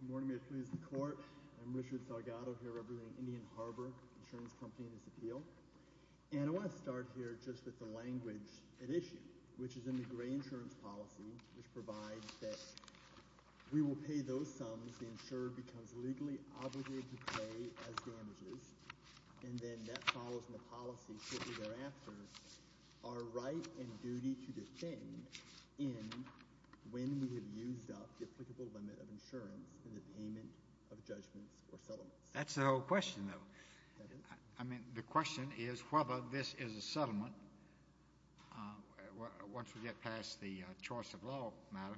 Good morning, may it please the Court. I'm Richard Salgado, here representing Indian Harbor Insurance Company in this appeal. And I want to start here just with the language at issue, which is in the gray insurance policy, which provides that we will pay those sums the insurer becomes legally obligated to pay as damages. And then that follows in the policy shortly thereafter our right and duty to defend in when we have used up the applicable limit of insurance in the payment of judgments or settlements. That's the whole question, though. I mean, the question is whether this is a settlement once we get past the choice of law matter.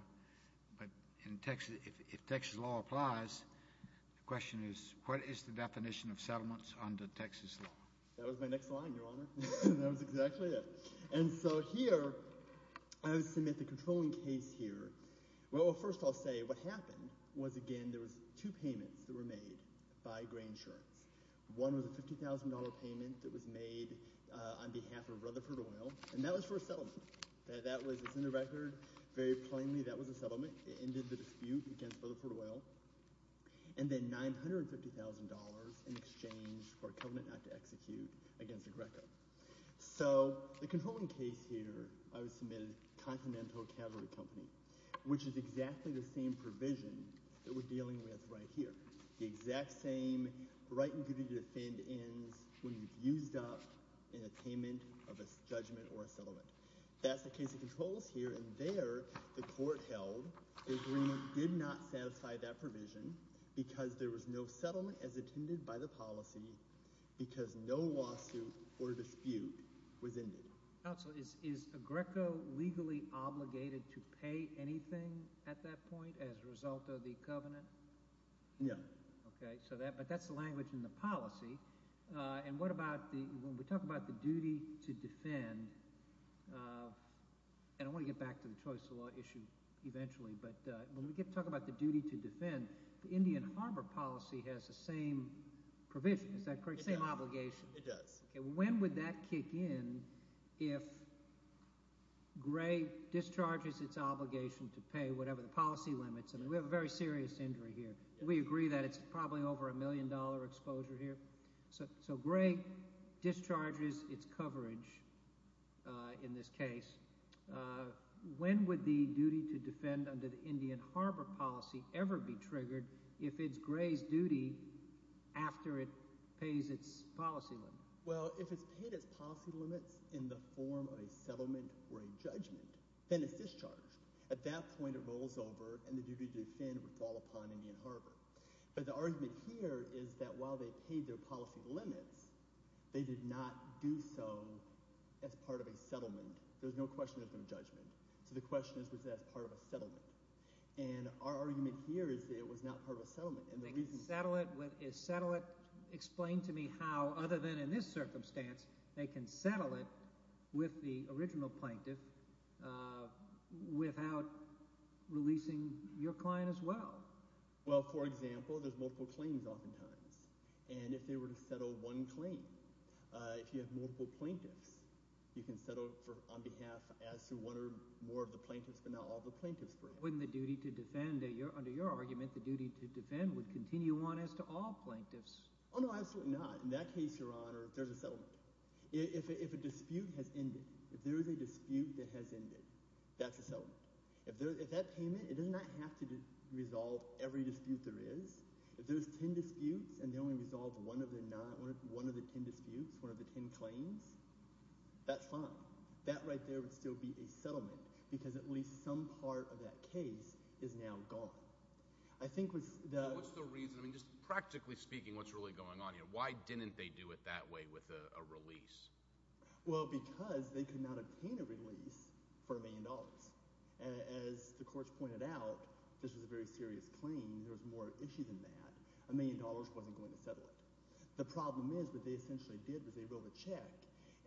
But if Texas law applies, the question is, what is the definition of settlements under Texas law? That was my next line, Your Honor. That was exactly it. And so here I would submit the controlling case here. Well, first I'll say what happened was, again, there was two payments that were made by gray insurance. One was a $50,000 payment that was made on behalf of Rutherford Oil, and that was for a settlement. That was, it's in the record, very plainly that was a settlement. It ended the dispute against Rutherford Oil. And then $950,000 in exchange for a covenant not to execute against Agreco. So the controlling case here I would submit is Continental Cavalry Company, which is exactly the same provision that we're dealing with right here. The exact same right and duty to defend ends when you've used up in a payment of a judgment or a settlement. That's the case of controls here. And there the court held the agreement did not satisfy that provision because there was no settlement as intended by the policy because no lawsuit or dispute was ended. Counsel, is Agreco legally obligated to pay anything at that point as a result of the covenant? No. Okay. So that – but that's the language in the policy. And what about the – when we talk about the duty to defend – and I want to get back to the choice of law issue eventually. But when we talk about the duty to defend, the Indian Harbor policy has the same provision. Is that correct? Same obligation. It does. When would that kick in if Gray discharges its obligation to pay whatever the policy limits? I mean we have a very serious injury here. We agree that it's probably over a million-dollar exposure here. So Gray discharges its coverage in this case. When would the duty to defend under the Indian Harbor policy ever be triggered if it's Gray's duty after it pays its policy limit? Well, if it's paid its policy limits in the form of a settlement or a judgment, then it's discharged. At that point, it rolls over, and the duty to defend would fall upon Indian Harbor. But the argument here is that while they paid their policy limits, they did not do so as part of a settlement. There's no question there's no judgment. So the question is was that as part of a settlement. And our argument here is that it was not part of a settlement. And the reason – Explain to me how, other than in this circumstance, they can settle it with the original plaintiff without releasing your client as well. Well, for example, there's multiple claims oftentimes. And if they were to settle one claim, if you have multiple plaintiffs, you can settle on behalf as to one or more of the plaintiffs but not all the plaintiffs. Wouldn't the duty to defend – under your argument, the duty to defend would continue on as to all plaintiffs? Oh, no, absolutely not. In that case, Your Honor, there's a settlement. If a dispute has ended, if there is a dispute that has ended, that's a settlement. If that payment – it does not have to resolve every dispute there is. If there's ten disputes and they only resolve one of the ten disputes, one of the ten claims, that's fine. That right there would still be a settlement because at least some part of that case is now gone. I think with the – What's the reason? I mean just practically speaking, what's really going on here? Why didn't they do it that way with a release? Well, because they could not obtain a release for a million dollars. As the courts pointed out, this was a very serious claim. There was more issue than that. A million dollars wasn't going to settle it. The problem is what they essentially did was they wrote a check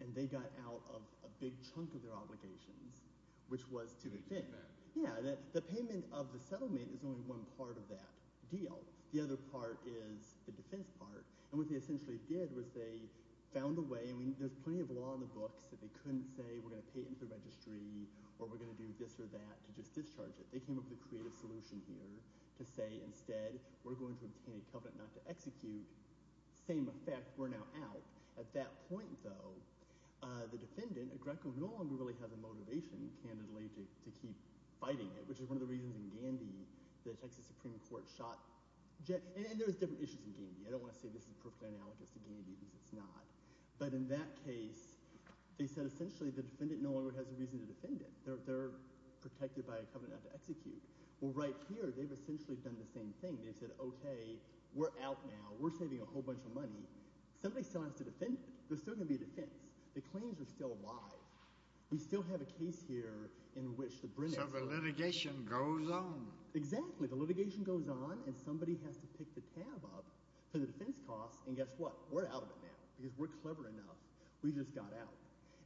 and they got out of a big chunk of their obligations, which was to defend. Yeah, the payment of the settlement is only one part of that deal. The other part is the defense part. And what they essentially did was they found a way – I mean there's plenty of law in the books that they couldn't say we're going to pay it into the registry or we're going to do this or that to just discharge it. They came up with a creative solution here to say instead we're going to obtain a covenant not to execute – same effect, we're now out. At that point, though, the defendant, Greco, no longer really has the motivation, candidly, to keep fighting it, which is one of the reasons in Gandhi the Texas Supreme Court shot – and there's different issues in Gandhi. I don't want to say this is perfectly analogous to Gandhi because it's not. But in that case, they said essentially the defendant no longer has a reason to defend it. They're protected by a covenant not to execute. Well, right here they've essentially done the same thing. They've said, okay, we're out now. We're saving a whole bunch of money. Somebody still has to defend it. There's still going to be a defense. The claims are still alive. We still have a case here in which the – So the litigation goes on. Exactly. The litigation goes on, and somebody has to pick the tab up for the defense cost, and guess what? We're out of it now because we're clever enough. We just got out.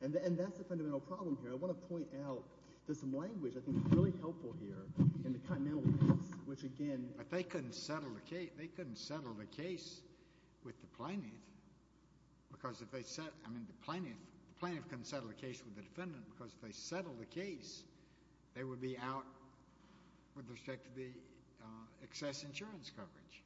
And that's the fundamental problem here. I want to point out there's some language I think is really helpful here in the continental case, which again – But they couldn't settle the case with the plaintiff because if they – I mean the plaintiff couldn't settle the case with the defendant because if they settled the case, they would be out with respect to the excess insurance coverage.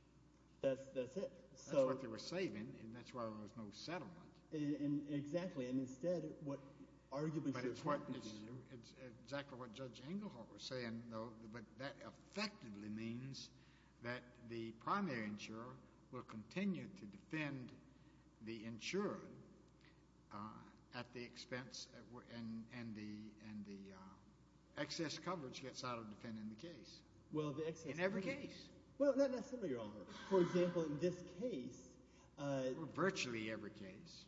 That's it. That's what they were saving, and that's why there was no settlement. Exactly. And instead what – It's exactly what Judge Engelhardt was saying, though, but that effectively means that the primary insurer will continue to defend the insurer at the expense and the excess coverage gets out of defending the case. Well, the excess – In every case. Well, not necessarily, Your Honor. For example, in this case – Virtually every case.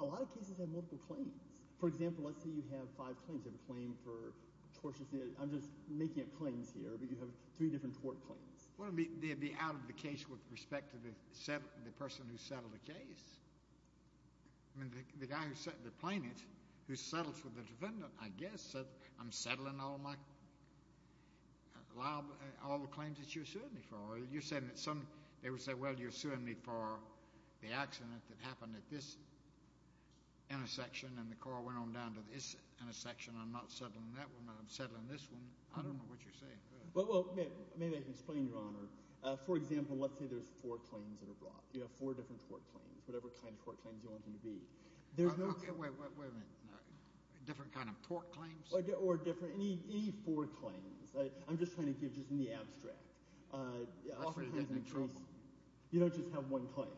A lot of cases have multiple claims. For example, let's say you have five claims. You have a claim for tortious – I'm just making up claims here, but you have three different tort claims. Well, they'd be out of the case with respect to the person who settled the case. I mean the guy who – the plaintiff who settles with the defendant, I guess, says I'm settling all the claims that you're suing me for. You're saying that some – I'm not settling that one, but I'm settling this one. I don't know what you're saying. Well, maybe I can explain, Your Honor. For example, let's say there's four claims that are brought. You have four different tort claims, whatever kind of tort claims you want them to be. There's no – Wait a minute. Different kind of tort claims? Or different – any four claims. I'm just trying to give just the abstract. I'm afraid you're getting in trouble. You don't just have one claim.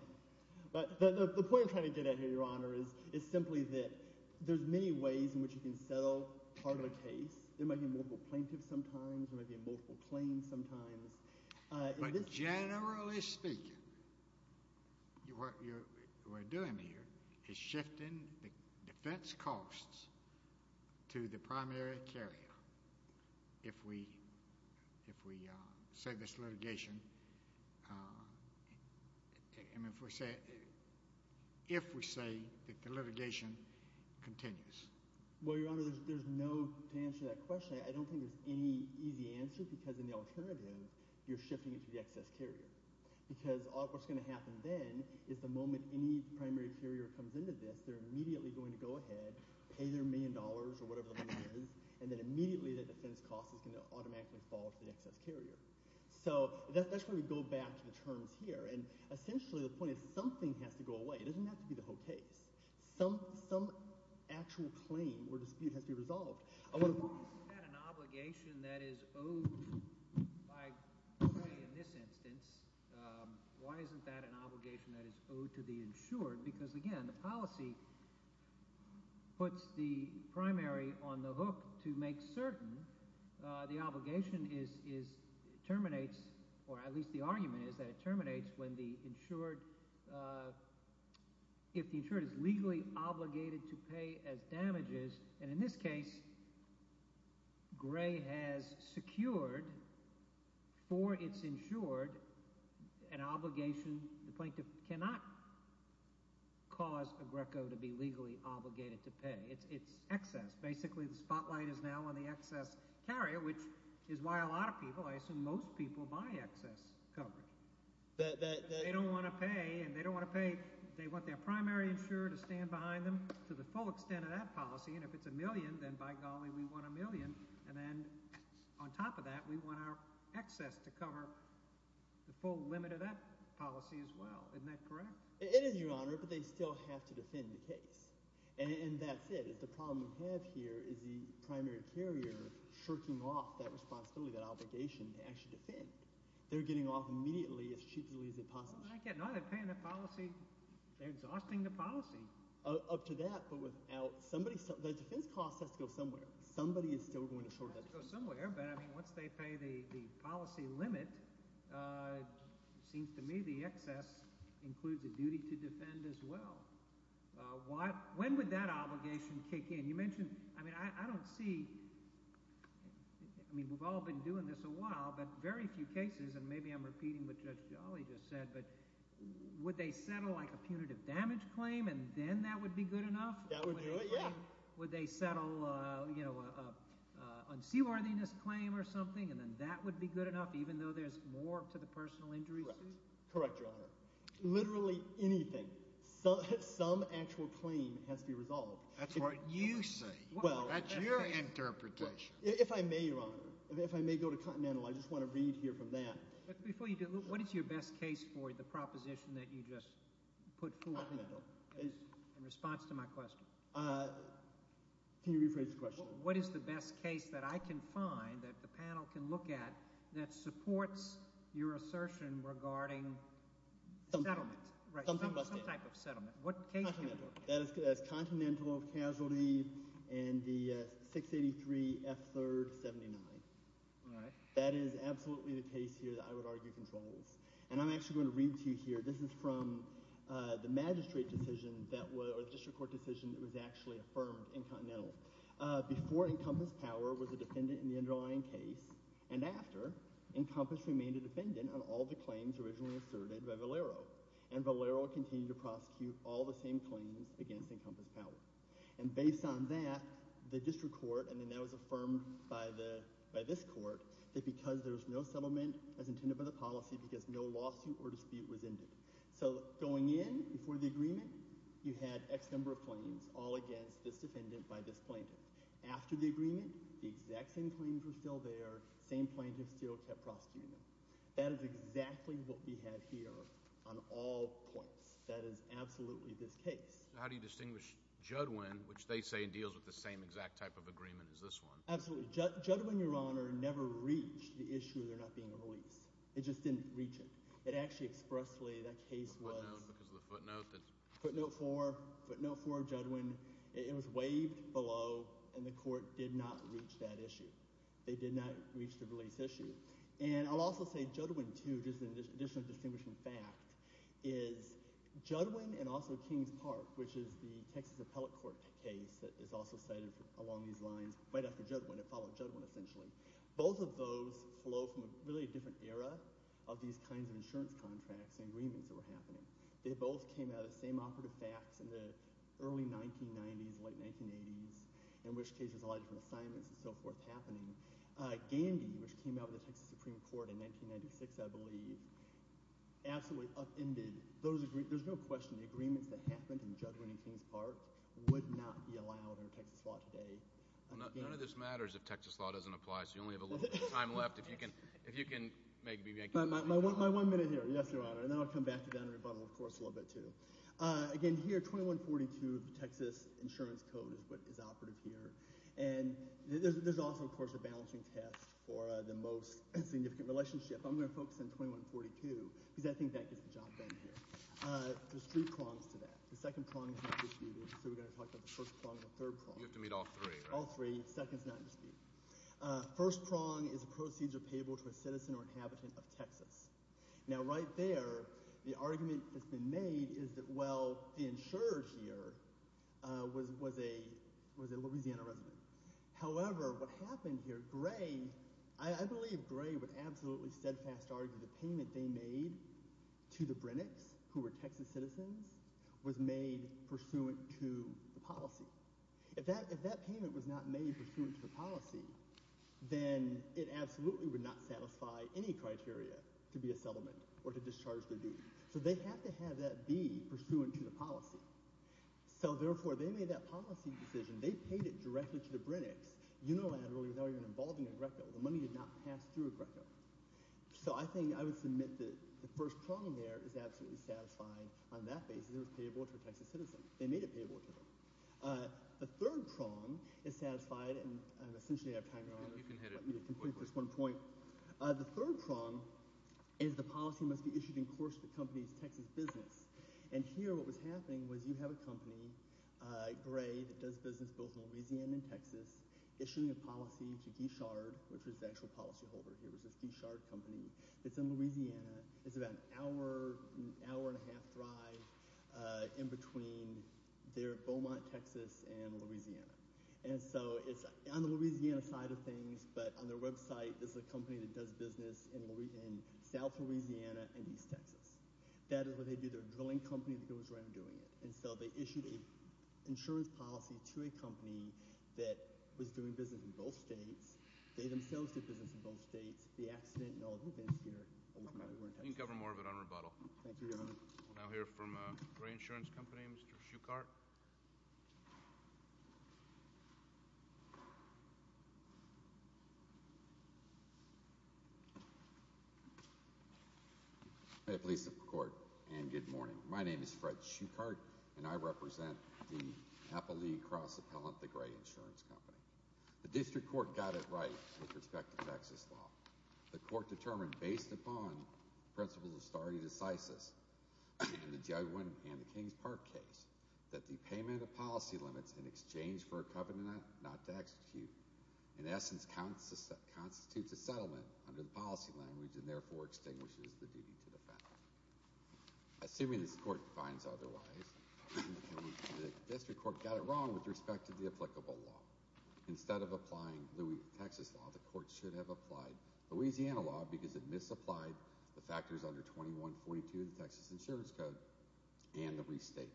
The point I'm trying to get at here, Your Honor, is simply that there's many ways in which you can settle part of a case. There might be multiple plaintiffs sometimes. There might be multiple claims sometimes. But generally speaking, what we're doing here is shifting the defense costs to the primary carrier. If we say this litigation – I mean if we say – if we say that the litigation continues. Well, Your Honor, there's no – to answer that question, I don't think there's any easy answer because in the alternative, you're shifting it to the excess carrier. Because what's going to happen then is the moment any primary carrier comes into this, they're immediately going to go ahead, pay their million dollars or whatever the money is, and then immediately the defense cost is going to automatically fall to the excess carrier. So that's where we go back to the terms here. And essentially the point is something has to go away. It doesn't have to be the whole case. Some actual claim or dispute has to be resolved. Why isn't that an obligation that is owed by the jury in this instance? Why isn't that an obligation that is owed to the insured? Because, again, the policy puts the primary on the hook to make certain the obligation is – terminates or at least the argument is that it terminates when the insured – if the insured is legally obligated to pay as damages. And in this case, Gray has secured for its insured an obligation. The plaintiff cannot cause a greco to be legally obligated to pay. It's excess. Basically the spotlight is now on the excess carrier, which is why a lot of people – I assume most people buy excess coverage. They don't want to pay, and they don't want to pay – to the full extent of that policy, and if it's a million, then by golly, we want a million. And then on top of that, we want our excess to cover the full limit of that policy as well. Isn't that correct? It is, Your Honor, but they still have to defend the case. And that's it. The problem we have here is the primary carrier shirking off that responsibility, that obligation to actually defend. They're getting off immediately as cheaply as they possibly can. They're paying the policy. They're exhausting the policy. Up to that, but without somebody – the defense cost has to go somewhere. Somebody is still going to short that defense. It has to go somewhere, but, I mean, once they pay the policy limit, it seems to me the excess includes a duty to defend as well. When would that obligation kick in? You mentioned – I mean I don't see – I mean we've all been doing this a while, but very few cases, and maybe I'm repeating what Judge Jolly just said, but would they settle like a punitive damage claim and then that would be good enough? That would do it, yeah. Would they settle a unseaworthiness claim or something and then that would be good enough even though there's more to the personal injury suit? Correct, Your Honor. Literally anything, some actual claim has to be resolved. That's what you say. That's your interpretation. If I may, Your Honor, if I may go to Continental, I just want to read here from that. Before you do, what is your best case for the proposition that you just put forward? Continental. In response to my question. Can you rephrase the question? What is the best case that I can find that the panel can look at that supports your assertion regarding settlement? Right, some type of settlement. Continental. That is Continental of Casualty and the 683F3rd79. That is absolutely the case here that I would argue controls, and I'm actually going to read to you here. This is from the magistrate decision or the district court decision that was actually affirmed in Continental. Before Encompass Power was a defendant in the underlying case and after, Encompass remained a defendant on all the claims originally asserted by Valero. And Valero continued to prosecute all the same claims against Encompass Power. And based on that, the district court, and then that was affirmed by this court, that because there was no settlement as intended by the policy because no lawsuit or dispute was ended. So going in before the agreement, you had X number of claims all against this defendant by this plaintiff. After the agreement, the exact same claims were still there. Same plaintiff still kept prosecuting them. That is exactly what we have here on all points. That is absolutely this case. How do you distinguish Judwin, which they say deals with the same exact type of agreement as this one? Absolutely. Judwin, Your Honor, never reached the issue of there not being a release. It just didn't reach it. It actually expressly – that case was – Because of the footnote that – Footnote four. Footnote four of Judwin. It was waived below, and the court did not reach that issue. They did not reach the release issue. And I'll also say Judwin, too, just an additional distinguishing fact, is Judwin and also Kings Park, which is the Texas Appellate Court case that is also cited along these lines right after Judwin. It followed Judwin essentially. Both of those flow from a really different era of these kinds of insurance contracts and agreements that were happening. They both came out of the same operative facts in the early 1990s, late 1980s, in which cases a lot of different assignments and so forth happening. Gandy, which came out of the Texas Supreme Court in 1996, I believe, absolutely upended those agreements. There's no question the agreements that happened in Judwin and Kings Park would not be allowed under Texas law today. None of this matters if Texas law doesn't apply, so you only have a little bit of time left. If you can make – My one minute here. Yes, Your Honor. And then I'll come back to that in rebuttal, of course, in a little bit, too. Again, here, 2142 of the Texas Insurance Code is operative here. And there's also, of course, a balancing test for the most significant relationship. I'm going to focus on 2142 because I think that gets the job done here. There's three prongs to that. The second prong is not disputed, so we're going to talk about the first prong and the third prong. You have to meet all three, right? All three. Second is not in dispute. First prong is a procedure payable to a citizen or inhabitant of Texas. Now, right there, the argument that's been made is that, well, the insurer here was a Louisiana resident. However, what happened here, Gray – I believe Gray would absolutely steadfast argue the payment they made to the Brennecks, who were Texas citizens, was made pursuant to the policy. If that payment was not made pursuant to the policy, then it absolutely would not satisfy any criteria to be a settlement or to discharge the deed. So they have to have that deed pursuant to the policy. So, therefore, they made that policy decision. They paid it directly to the Brennecks unilaterally without even involving a GRCCO. The money did not pass through a GRCCO. So I think I would submit that the first prong there is absolutely satisfying on that basis. It was payable to a Texas citizen. They made it payable to them. The third prong is satisfied, and essentially I have time to go on. Let me complete this one point. The third prong is the policy must be issued in course of the company's Texas business. And here what was happening was you have a company, Gray, that does business both in Louisiana and Texas, issuing a policy to Gishard, which was the actual policyholder here. It was this Gishard company that's in Louisiana. It's about an hour, hour and a half drive in between their Beaumont, Texas, and Louisiana. And so it's on the Louisiana side of things, but on their website, this is a company that does business in south Louisiana and east Texas. That is what they do. They're a drilling company that goes around doing it. And so they issued an insurance policy to a company that was doing business in both states. They themselves did business in both states. That's the accident and all the events here. You can cover more of it on rebuttal. Thank you, Your Honor. We'll now hear from a Gray Insurance Company, Mr. Schuchart. Hi, police and court, and good morning. My name is Fred Schuchart, and I represent the Appleby Cross Appellant, the Gray Insurance Company. The district court got it right with respect to Texas law. The court determined, based upon principles of stare decisis in the Jaguar and the Kings Park case, that the payment of policy limits in exchange for a covenant not to execute, in essence, constitutes a settlement under the policy language and therefore extinguishes the duty to defend. Assuming this court finds otherwise, the district court got it wrong with respect to the applicable law. Instead of applying Texas law, the court should have applied Louisiana law because it misapplied the factors under 2142 of the Texas Insurance Code and the restatement.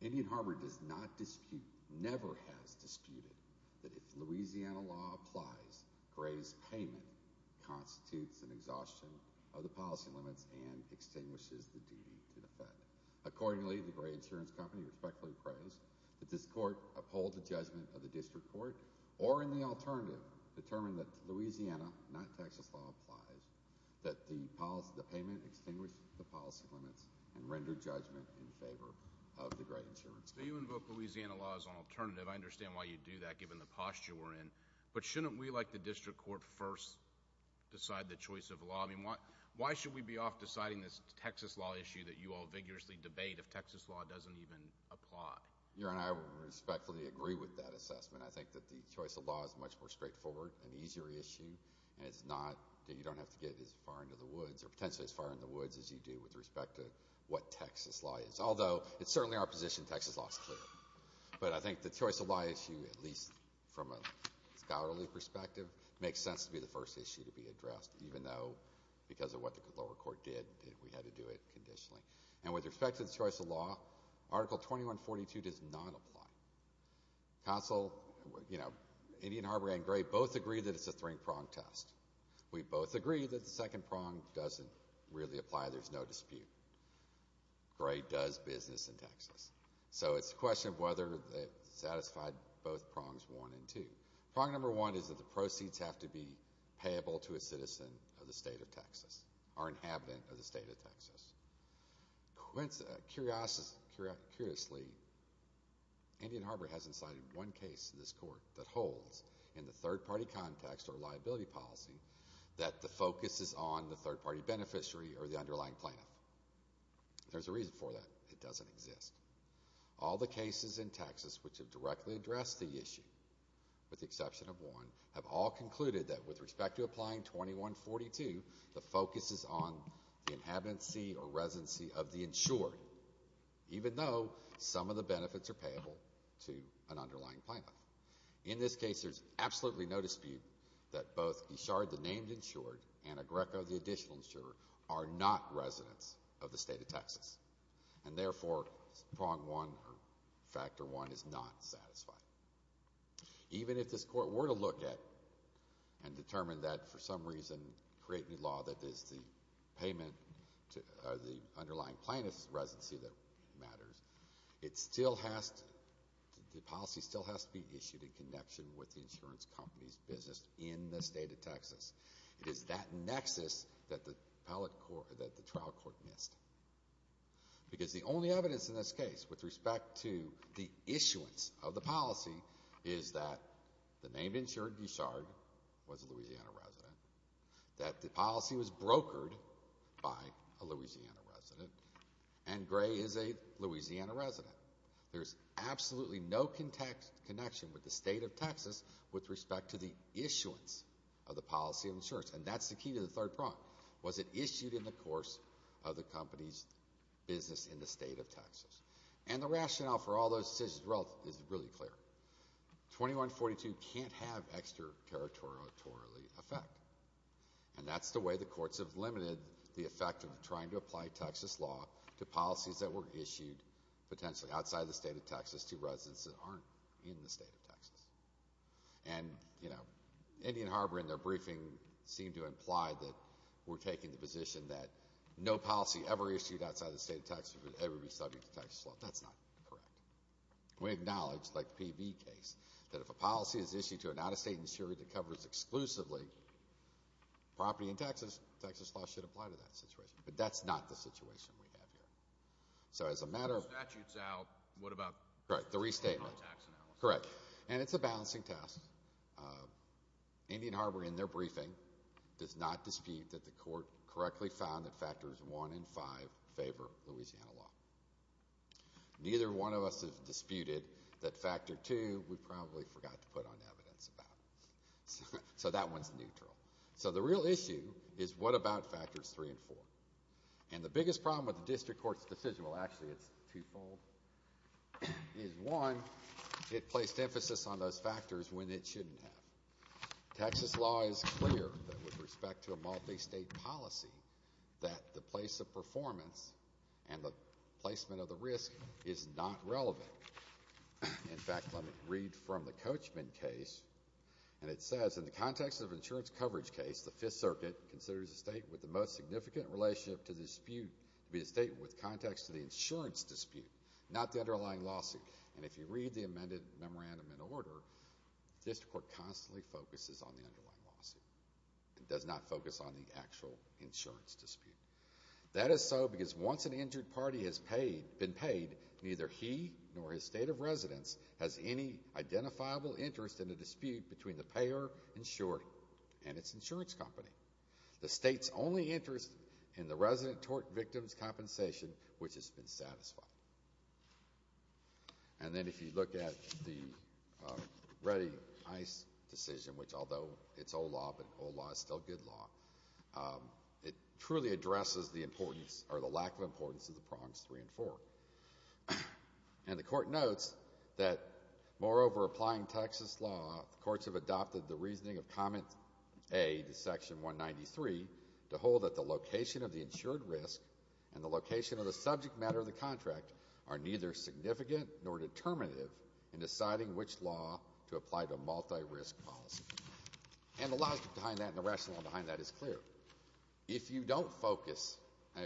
Indian Harbor does not dispute, never has disputed, that if Louisiana law applies, Gray's payment constitutes an exhaustion of the policy limits and extinguishes the duty to defend. Accordingly, the Gray Insurance Company respectfully prose that this court uphold the judgment of the district court or, in the alternative, determine that Louisiana, not Texas law, applies, that the payment extinguish the policy limits and render judgment in favor of the Gray Insurance Company. So you invoke Louisiana law as an alternative. I understand why you do that, given the posture we're in. But shouldn't we, like the district court, first decide the choice of law? I mean, why should we be off deciding this Texas law issue that you all vigorously debate if Texas law doesn't even apply? Your Honor, I respectfully agree with that assessment. I think that the choice of law is a much more straightforward and easier issue, and it's not that you don't have to get as far into the woods or potentially as far into the woods as you do with respect to what Texas law is. Although, it's certainly our position Texas law is clear. But I think the choice of law issue, at least from a scholarly perspective, makes sense to be the first issue to be addressed, even though because of what the lower court did, we had to do it conditionally. And with respect to the choice of law, Article 2142 does not apply. Council, you know, Indian Harbor and Gray both agree that it's a three-prong test. We both agree that the second prong doesn't really apply. There's no dispute. Gray does business in Texas. So it's a question of whether it satisfied both prongs one and two. Prong number one is that the proceeds have to be payable to a citizen of the state of Texas or an inhabitant of the state of Texas. Curiously, Indian Harbor hasn't cited one case in this court that holds in the third-party context or liability policy that the focus is on the third-party beneficiary or the underlying plaintiff. There's a reason for that. It doesn't exist. All the cases in Texas which have directly addressed the issue, with the exception of one, have all concluded that with respect to applying 2142, the focus is on the inhabitancy or residency of the insured, even though some of the benefits are payable to an underlying plaintiff. In this case, there's absolutely no dispute that both Eshard, the named insured, and Agreco, the additional insured, are not residents of the state of Texas. And therefore, prong one, or factor one, is not satisfied. Even if this court were to look at and determine that, for some reason, creating a law that is the underlying plaintiff's residency that matters, the policy still has to be issued in connection with the insurance company's business in the state of Texas. It is that nexus that the trial court missed. Because the only evidence in this case with respect to the issuance of the policy is that the named insured, Eshard, was a Louisiana resident, that the policy was brokered by a Louisiana resident, and Gray is a Louisiana resident. There's absolutely no connection with the state of Texas with respect to the issuance of the policy of insurance. And that's the key to the third prong, was it issued in the course of the company's business in the state of Texas. And the rationale for all those decisions is really clear. 2142 can't have extra-territorial effect. And that's the way the courts have limited the effect of trying to apply Texas law to policies that were issued potentially outside the state of Texas to residents that aren't in the state of Texas. And, you know, Indian Harbor in their briefing seemed to imply that we're taking the position that no policy ever issued outside the state of Texas would ever be subject to Texas law. That's not correct. We acknowledge, like the PV case, that if a policy is issued to an out-of-state insurer that covers exclusively property in Texas, Texas law should apply to that situation. But that's not the situation we have here. So as a matter of— If the statute's out, what about— Right, the restatement. —the non-tax analysis? Correct. And it's a balancing task. Indian Harbor in their briefing does not dispute that the court correctly found that factors one and five favor Louisiana law. Neither one of us has disputed that factor two we probably forgot to put on evidence about. So that one's neutral. So the real issue is what about factors three and four? And the biggest problem with the district court's decision— well, actually, it's twofold— is, one, it placed emphasis on those factors when it shouldn't have. Texas law is clear that with respect to a multi-state policy that the place of performance and the placement of the risk is not relevant. In fact, let me read from the Coachman case, and it says, in the context of an insurance coverage case, the Fifth Circuit considers a state with the most significant relationship to dispute to be a state with context to the insurance dispute, not the underlying lawsuit. And if you read the amended memorandum in order, the district court constantly focuses on the underlying lawsuit. It does not focus on the actual insurance dispute. That is so because once an injured party has been paid, neither he nor his state of residence has any identifiable interest in a dispute between the payer insured and its insurance company. The state's only interest in the resident tort victim's compensation, which has been satisfied. And then if you look at the Reddy-Ice decision, which although it's old law, but old law is still good law, it truly addresses the importance or the lack of importance of the prongs three and four. And the court notes that, moreover, applying Texas law, the courts have adopted the reasoning of Comment A to Section 193 to hold that the location of the insured risk and the location of the subject matter of the contract are neither significant nor determinative in deciding which law to apply to multi-risk policy. And the logic behind that and the rationale behind that is clear. If you don't focus,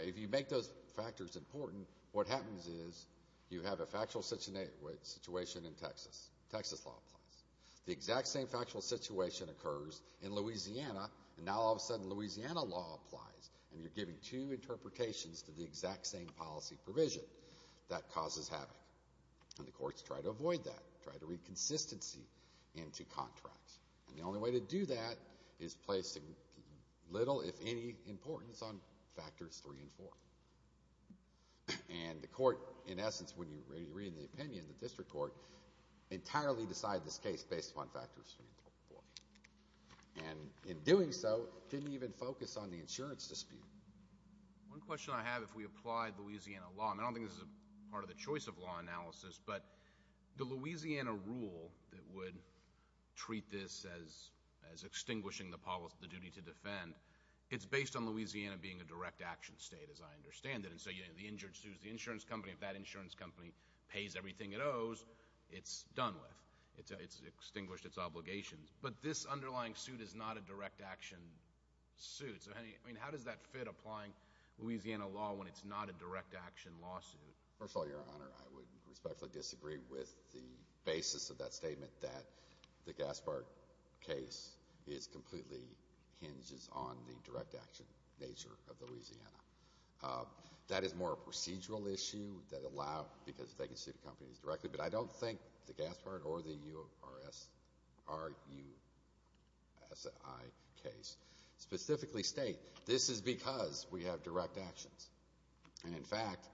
if you make those factors important, what happens is you have a factual situation in Texas. Texas law applies. The exact same factual situation occurs in Louisiana, and now all of a sudden Louisiana law applies, and you're giving two interpretations to the exact same policy provision. That causes havoc. And the courts try to avoid that, try to read consistency into contracts. And the only way to do that is placing little, if any, importance on factors three and four. And the court, in essence, when you read the opinion, the district court, entirely decided this case based upon factors three and four. And in doing so, didn't even focus on the insurance dispute. One question I have, if we applied Louisiana law, and I don't think this is part of the choice of law analysis, but the Louisiana rule that would treat this as extinguishing the duty to defend, it's based on Louisiana being a direct action state, as I understand it. And so the injured sues the insurance company. If that insurance company pays everything it owes, it's done with. It's extinguished its obligations. But this underlying suit is not a direct action suit. So, how does that fit applying Louisiana law when it's not a direct action lawsuit? First of all, Your Honor, I would respectfully disagree with the basis of that statement that the Gaspard case completely hinges on the direct action nature of Louisiana. That is more a procedural issue that allow, because they can sue the companies directly. But I don't think the Gaspard or the URSI case specifically state, this is because we have direct actions. And, in fact,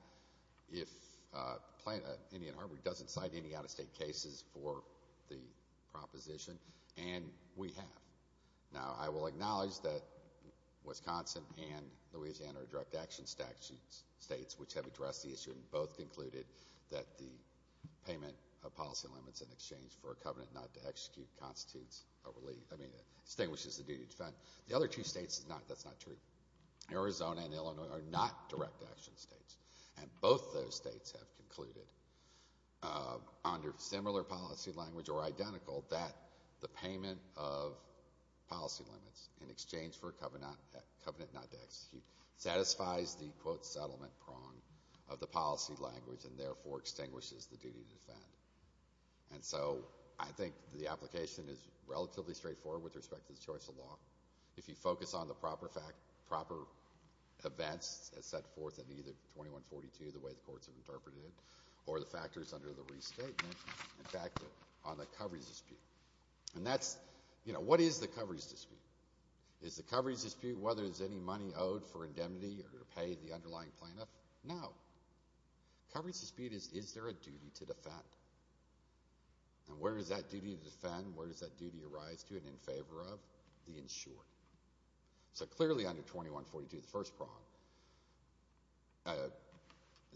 Indian Harbor doesn't cite any out-of-state cases for the proposition, and we have. Now, I will acknowledge that Wisconsin and Louisiana are direct action states, which have addressed the issue and both concluded that the payment of policy limits in exchange for a covenant not to execute constitutes a relief. I mean, it extinguishes the duty to defend. The other two states, that's not true. Arizona and Illinois are not direct action states, and both those states have concluded under similar policy language or identical that the payment of policy limits in exchange for a covenant not to execute satisfies the, quote, settlement prong of the policy language and therefore extinguishes the duty to defend. And so I think the application is relatively straightforward with respect to the choice of law. If you focus on the proper events as set forth in either 2142, the way the courts have interpreted it, or the factors under the restatement, in fact, on the coverage dispute. And that's, you know, what is the coverage dispute? Is the coverage dispute whether it's any money owed for indemnity or to pay the underlying plaintiff? No. Coverage dispute is, is there a duty to defend? And where is that duty to defend? And where does that duty arise to and in favor of? The insured. So clearly under 2142, the first prong,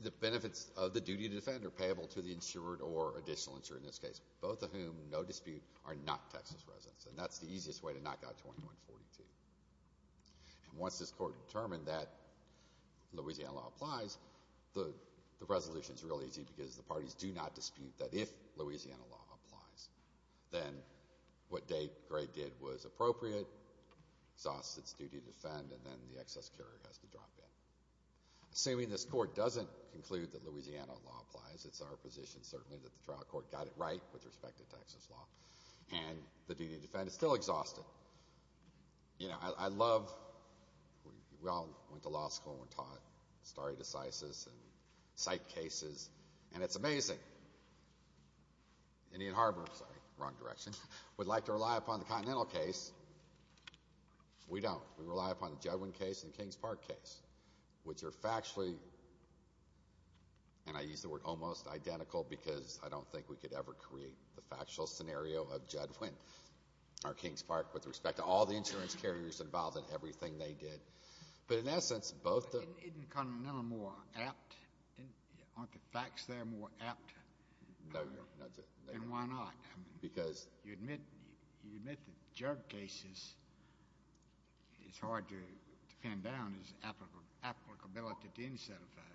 the benefits of the duty to defend are payable to the insured or additional insurer in this case, both of whom, no dispute, are not Texas residents. And that's the easiest way to knock out 2142. And once this court determined that Louisiana law applies, the resolution is real easy because the parties do not dispute that if Louisiana law applies, then what Dave Gray did was appropriate, exhausts its duty to defend, and then the excess carrier has to drop in. Assuming this court doesn't conclude that Louisiana law applies, it's our position certainly that the trial court got it right with respect to Texas law, and the duty to defend is still exhausted. You know, I love, we all went to law school and were taught stare decisis and cite cases, and it's amazing. Indian Harbor, sorry, wrong direction, would like to rely upon the Continental case. We don't. We rely upon the Judwin case and the Kings Park case, which are factually, and I use the word almost identical because I don't think we could ever create the factual scenario of Judwin or Kings Park with respect to all the insurance carriers involved in everything they did. But in essence, both the— And why not? Because— You admit the Jug cases, it's hard to pin down its applicability to any set of facts.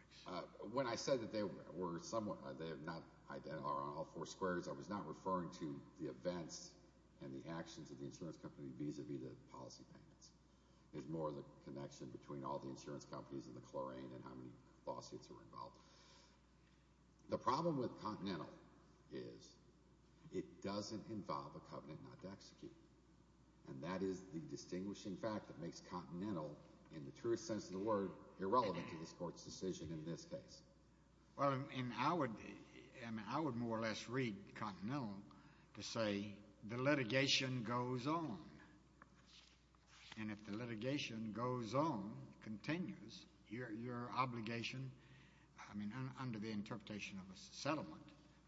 When I said that they were somewhat, they are not identical on all four squares, I was not referring to the events and the actions of the insurance company vis-a-vis the policy payments. It's more the connection between all the insurance companies and the chlorine and how many lawsuits were involved. The problem with Continental is it doesn't involve a covenant not to execute. And that is the distinguishing fact that makes Continental, in the truest sense of the word, irrelevant to this court's decision in this case. Well, and I would more or less read Continental to say the litigation goes on. And if the litigation goes on, continues, your obligation, I mean, under the interpretation of a settlement,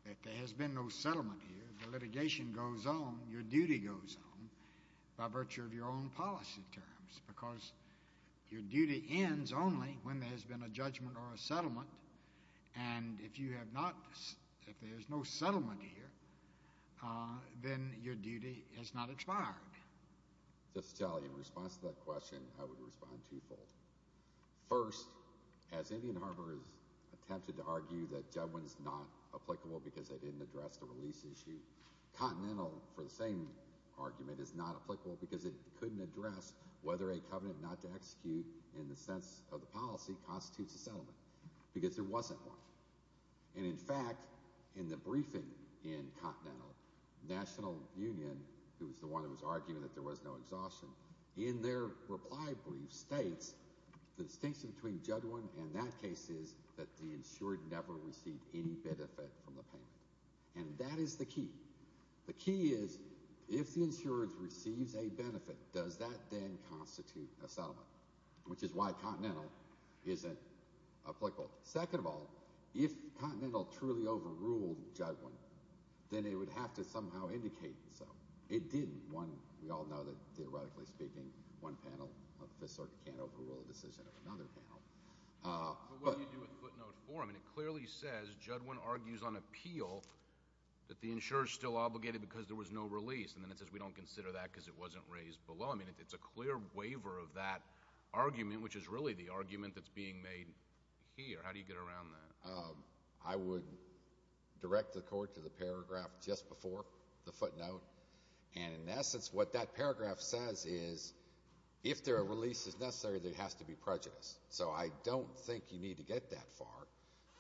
if there has been no settlement here, the litigation goes on, your duty goes on by virtue of your own policy terms because your duty ends only when there has been a judgment or a settlement. And if you have not, if there is no settlement here, then your duty has not expired. Justice Kelly, in response to that question, I would respond twofold. First, as Indian Harbor has attempted to argue that Judwin is not applicable because they didn't address the release issue, Continental, for the same argument, is not applicable because it couldn't address whether a covenant not to execute in the sense of the policy constitutes a settlement because there wasn't one. And in fact, in the briefing in Continental, National Union, who was the one that was arguing that there was no exhaustion, in their reply brief states the distinction between Judwin and that case is that the insured never received any benefit from the payment. And that is the key. The key is if the insured receives a benefit, does that then constitute a settlement, which is why Continental isn't applicable. Second of all, if Continental truly overruled Judwin, then it would have to somehow indicate so. It didn't. One, we all know that, theoretically speaking, one panel of the Fifth Circuit can't overrule a decision of another panel. But what do you do with footnote four? I mean, it clearly says Judwin argues on appeal that the insurer is still obligated because there was no release. And then it says we don't consider that because it wasn't raised below. I mean, it's a clear waiver of that argument, which is really the argument that's being made here. How do you get around that? I would direct the Court to the paragraph just before the footnote. And in essence, what that paragraph says is if there are releases necessary, there has to be prejudice. So I don't think you need to get that far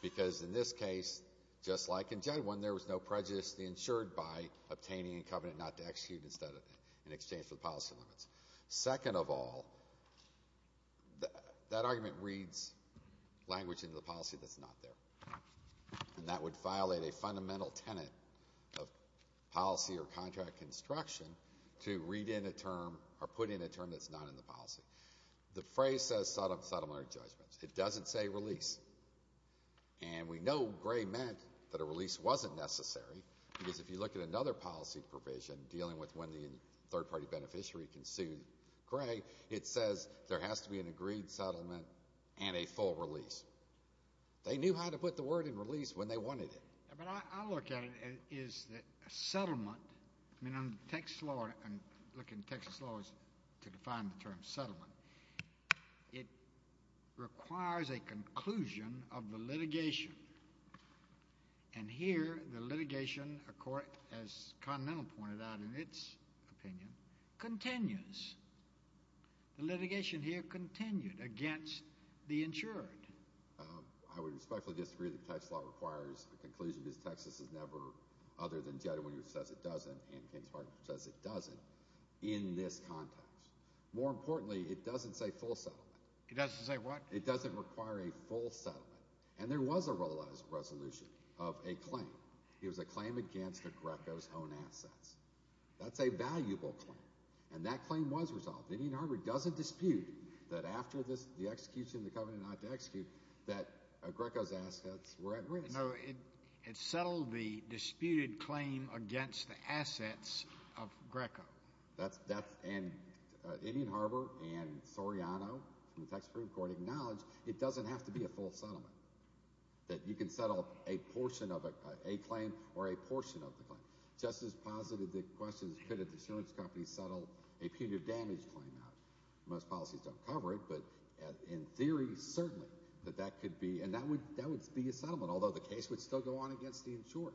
because in this case, just like in Judwin, there was no prejudice to the insured by obtaining a covenant not to execute in exchange for the policy limits. Second of all, that argument reads language into the policy that's not there. And that would violate a fundamental tenet of policy or contract construction to read in a term or put in a term that's not in the policy. The phrase says settlement or judgment. It doesn't say release. And we know Gray meant that a release wasn't necessary because if you look at another policy provision, dealing with when the third-party beneficiary can sue Gray, it says there has to be an agreed settlement and a full release. They knew how to put the word in release when they wanted it. But I look at it as a settlement. I mean, in Texas law, and looking at Texas law to define the term settlement, it requires a conclusion of the litigation. And here the litigation, as Continental pointed out in its opinion, continues. I would respectfully disagree that Texas law requires a conclusion because Texas has never, other than Judwin who says it doesn't and Ken Spartan who says it doesn't, in this context. More importantly, it doesn't say full settlement. It doesn't say what? It doesn't require a full settlement. And there was a resolution of a claim. It was a claim against the Greco's own assets. That's a valuable claim. And that claim was resolved. Indian Harbor doesn't dispute that after the execution, the covenant not to execute, that Greco's assets were at risk. No, it settled the disputed claim against the assets of Greco. And Indian Harbor and Soriano from the Texas Supreme Court acknowledge it doesn't have to be a full settlement, that you can settle a portion of a claim or a portion of the claim. Justice posited the question is could an insurance company settle a punitive damage claim out. Most policies don't cover it, but in theory, certainly, that that could be, and that would be a settlement, although the case would still go on against the insurer.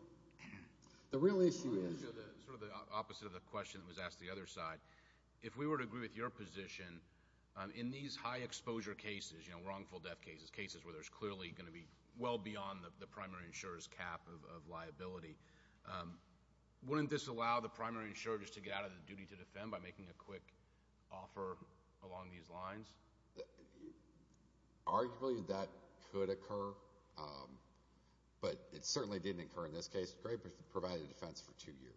The real issue is. I want to show sort of the opposite of the question that was asked on the other side. If we were to agree with your position, in these high exposure cases, you know, wrongful death cases, cases where there's clearly going to be well beyond the primary insurer's cap of liability, wouldn't this allow the primary insurer just to get out of the duty to defend by making a quick offer along these lines? Arguably, that could occur, but it certainly didn't occur in this case. Gray provided defense for two years.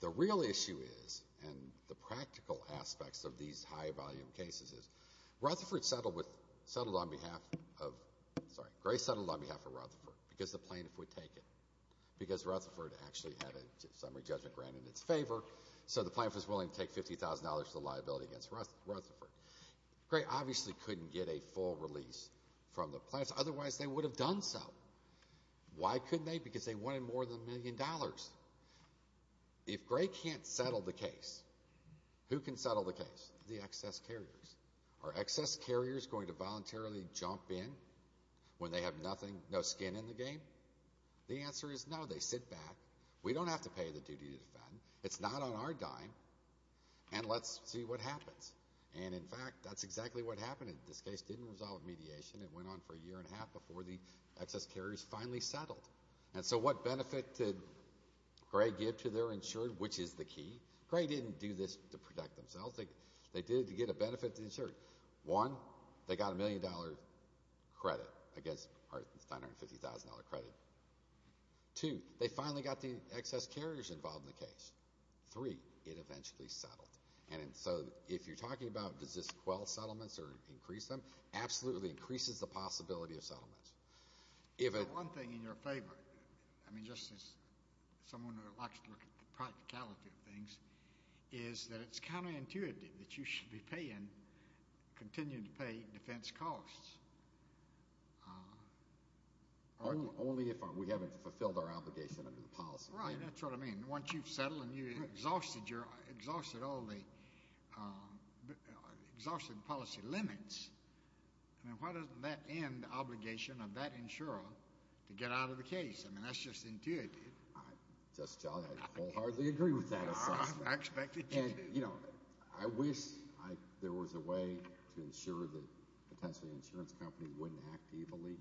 The real issue is, and the practical aspects of these high volume cases is, Rutherford settled on behalf of, sorry, Gray settled on behalf of Rutherford because the plaintiff would take it, because Rutherford actually had a summary judgment grant in its favor, so the plaintiff was willing to take $50,000 for the liability against Rutherford. Gray obviously couldn't get a full release from the plaintiffs. Otherwise, they would have done so. Why couldn't they? Because they wanted more than a million dollars. If Gray can't settle the case, who can settle the case? The excess carriers. Are excess carriers going to voluntarily jump in when they have nothing, no skin in the game? The answer is no. They sit back. We don't have to pay the duty to defend. It's not on our dime, and let's see what happens. And, in fact, that's exactly what happened. This case didn't resolve with mediation. It went on for a year and a half before the excess carriers finally settled. And so what benefit did Gray give to their insured, which is the key? Gray didn't do this to protect themselves. They did it to get a benefit to the insured. One, they got a million-dollar credit, I guess, or $950,000 credit. Two, they finally got the excess carriers involved in the case. Three, it eventually settled. And so if you're talking about does this quell settlements or increase them, it absolutely increases the possibility of settlements. One thing in your favor, I mean just as someone who likes to look at the practicality of things, is that it's counterintuitive that you should be paying, continuing to pay, defense costs. Only if we haven't fulfilled our obligation under the policy. Right, that's what I mean. Once you've settled and you've exhausted all the exhausted policy limits, I mean why doesn't that end obligation of that insurer to get out of the case? I mean that's just intuitive. Just jolly, I wholeheartedly agree with that. I expected you to. And, you know, I wish there was a way to ensure that potentially an insurance company wouldn't act evilly.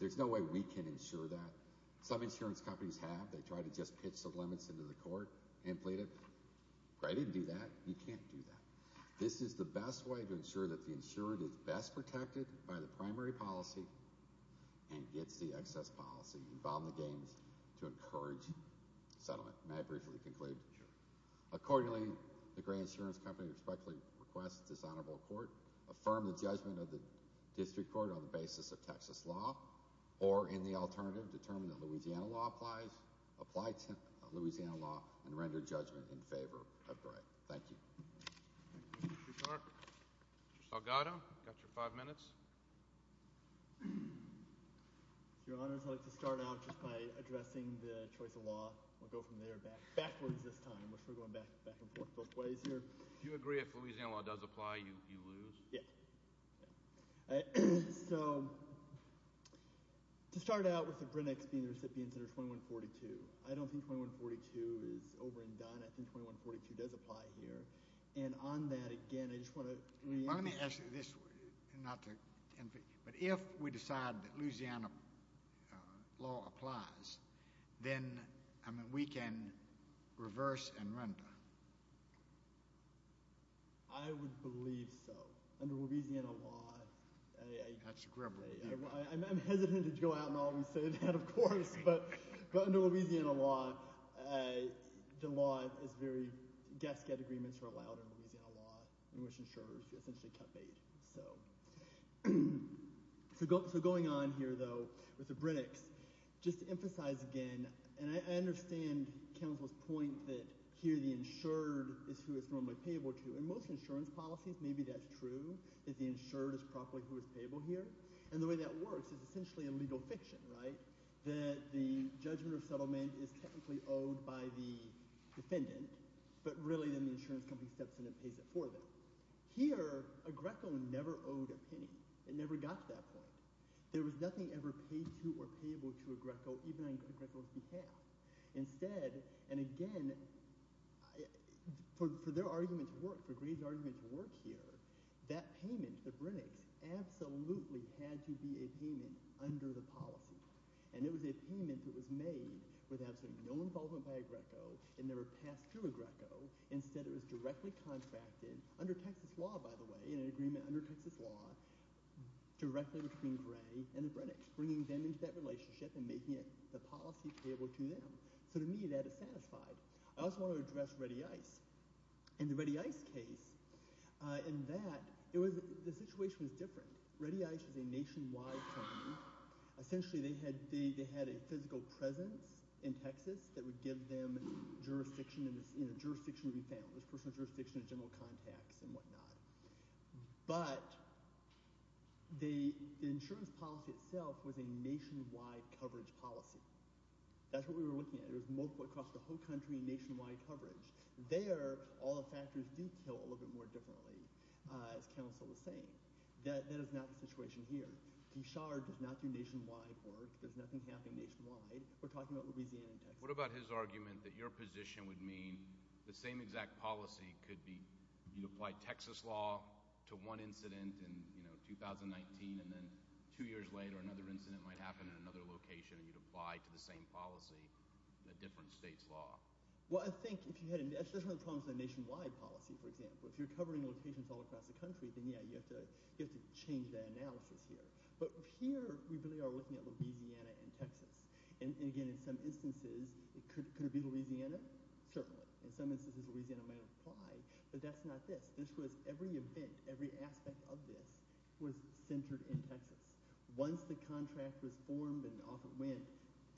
There's no way we can insure that. Some insurance companies have. They try to just pitch the limits into the court and plead it. I didn't do that. You can't do that. This is the best way to ensure that the insurer is best protected by the primary policy and gets the excess policy involved in the gains to encourage settlement. May I briefly conclude? Sure. Accordingly, the grant insurance company respectfully requests this honorable court affirm the judgment of the district court on the basis of Texas law or, in the alternative, determine that Louisiana law applies, apply Louisiana law and render judgment in favor of grant. Thank you. Mr. Clark. Mr. Salgado. You've got your five minutes. Your Honors, I'd like to start out just by addressing the choice of law. We'll go from there backwards this time. We're going back and forth both ways here. Do you agree if Louisiana law does apply, you lose? Yeah. So, to start out with the Grinnecks being the recipients under 2142, I don't think 2142 is over and done. I think 2142 does apply here. And on that, again, I just want to re-emphasize. Let me ask you this. But if we decide that Louisiana law applies, then we can reverse and render. I would believe so. Under Louisiana law, I'm hesitant to go out and always say that, of course. But under Louisiana law, the law is very – gas-gate agreements are allowed in Louisiana law, in which insurers are essentially cut-paid. So, going on here, though, with the Grinnecks, just to emphasize again, and I understand counsel's point that here the insured is who it's normally payable to. In most insurance policies, maybe that's true, that the insured is properly who is payable here. And the way that works is essentially a legal fiction, right, that the judgment or settlement is technically owed by the defendant, but really then the insurance company steps in and pays it for them. Here a Greco never owed a penny. It never got to that point. There was nothing ever paid to or payable to a Greco, even on a Greco's behalf. Instead, and again, for their argument to work, for Gray's argument to work here, that payment, the Grinnecks, absolutely had to be a payment under the policy. And it was a payment that was made with absolutely no involvement by a Greco and never passed through a Greco. Instead, it was directly contracted, under Texas law, by the way, in an agreement under Texas law, directly between Gray and the Grinnecks, bringing them into that relationship and making the policy payable to them. So to me, that is satisfied. I also want to address ReadyIce. In the ReadyIce case, in that, the situation was different. ReadyIce is a nationwide company. Essentially, they had a physical presence in Texas that would give them jurisdiction in a jurisdictionary family, personal jurisdiction in general contacts and whatnot. But the insurance policy itself was a nationwide coverage policy. That's what we were looking at. It was multiple across the whole country, nationwide coverage. There, all the factors do kill a little bit more differently, as counsel was saying. That is not the situation here. Gichard does not do nationwide work. There's nothing happening nationwide. We're talking about Louisiana and Texas. What about his argument that your position would mean the same exact policy could be you'd apply Texas law to one incident in 2019, and then two years later, another incident might happen in another location, and you'd apply to the same policy a different state's law? Well, I think if you had – that's one of the problems with a nationwide policy, for example. If you're covering locations all across the country, then, yeah, you have to change that analysis here. But here we really are looking at Louisiana and Texas. And, again, in some instances, could it be Louisiana? Certainly. In some instances, Louisiana might apply. But that's not this. This was every event, every aspect of this was centered in Texas. Once the contract was formed and off it went,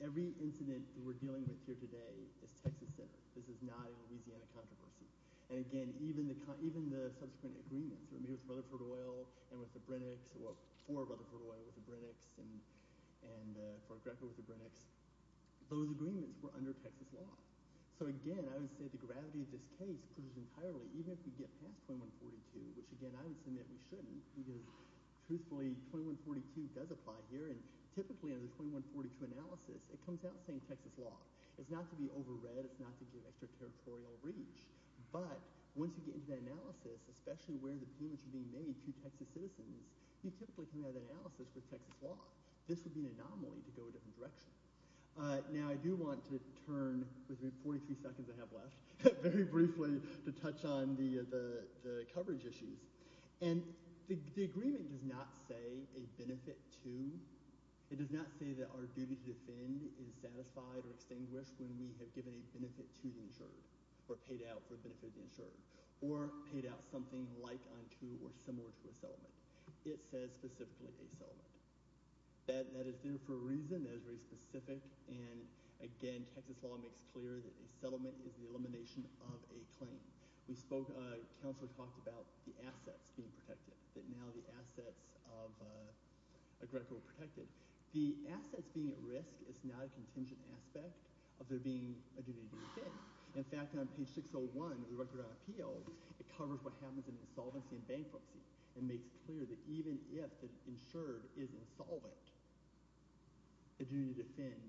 every incident that we're dealing with here today is Texas-centered. This is not a Louisiana controversy. And, again, even the subsequent agreements that were made with Rutherford Oil and with the Brinics or for Rutherford Oil with the Brinics and for Greco with the Brinics, those agreements were under Texas law. So, again, I would say the gravity of this case proves entirely, even if we get past 2142, which, again, I would submit we shouldn't because, truthfully, 2142 does apply here. And typically under the 2142 analysis, it comes out saying Texas law. It's not to be overread. It's not to give extraterritorial reach. But once you get into that analysis, especially where the payments are being made to Texas citizens, you typically come out of that analysis with Texas law. This would be an anomaly to go a different direction. Now I do want to turn, with 43 seconds I have left, very briefly to touch on the coverage issues. And the agreement does not say a benefit to. It does not say that our duty to defend is satisfied or extinguished when we have given a benefit to the insured or paid out for the benefit of the insured or paid out something like unto or similar to a settlement. It says specifically a settlement. That is there for a reason. That is very specific. And, again, Texas law makes clear that a settlement is the elimination of a claim. We spoke—Counselor talked about the assets being protected, that now the assets of a record are protected. The assets being at risk is not a contingent aspect of there being a duty to defend. In fact, on page 601 of the Record on Appeals, it covers what happens in insolvency and bankruptcy and makes clear that even if the insured is insolvent, a duty to defend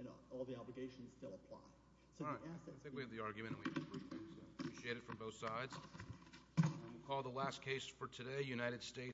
and all the obligations still apply. All right. I think we have the argument, and we appreciate it from both sides. We'll call the last case for today, United States.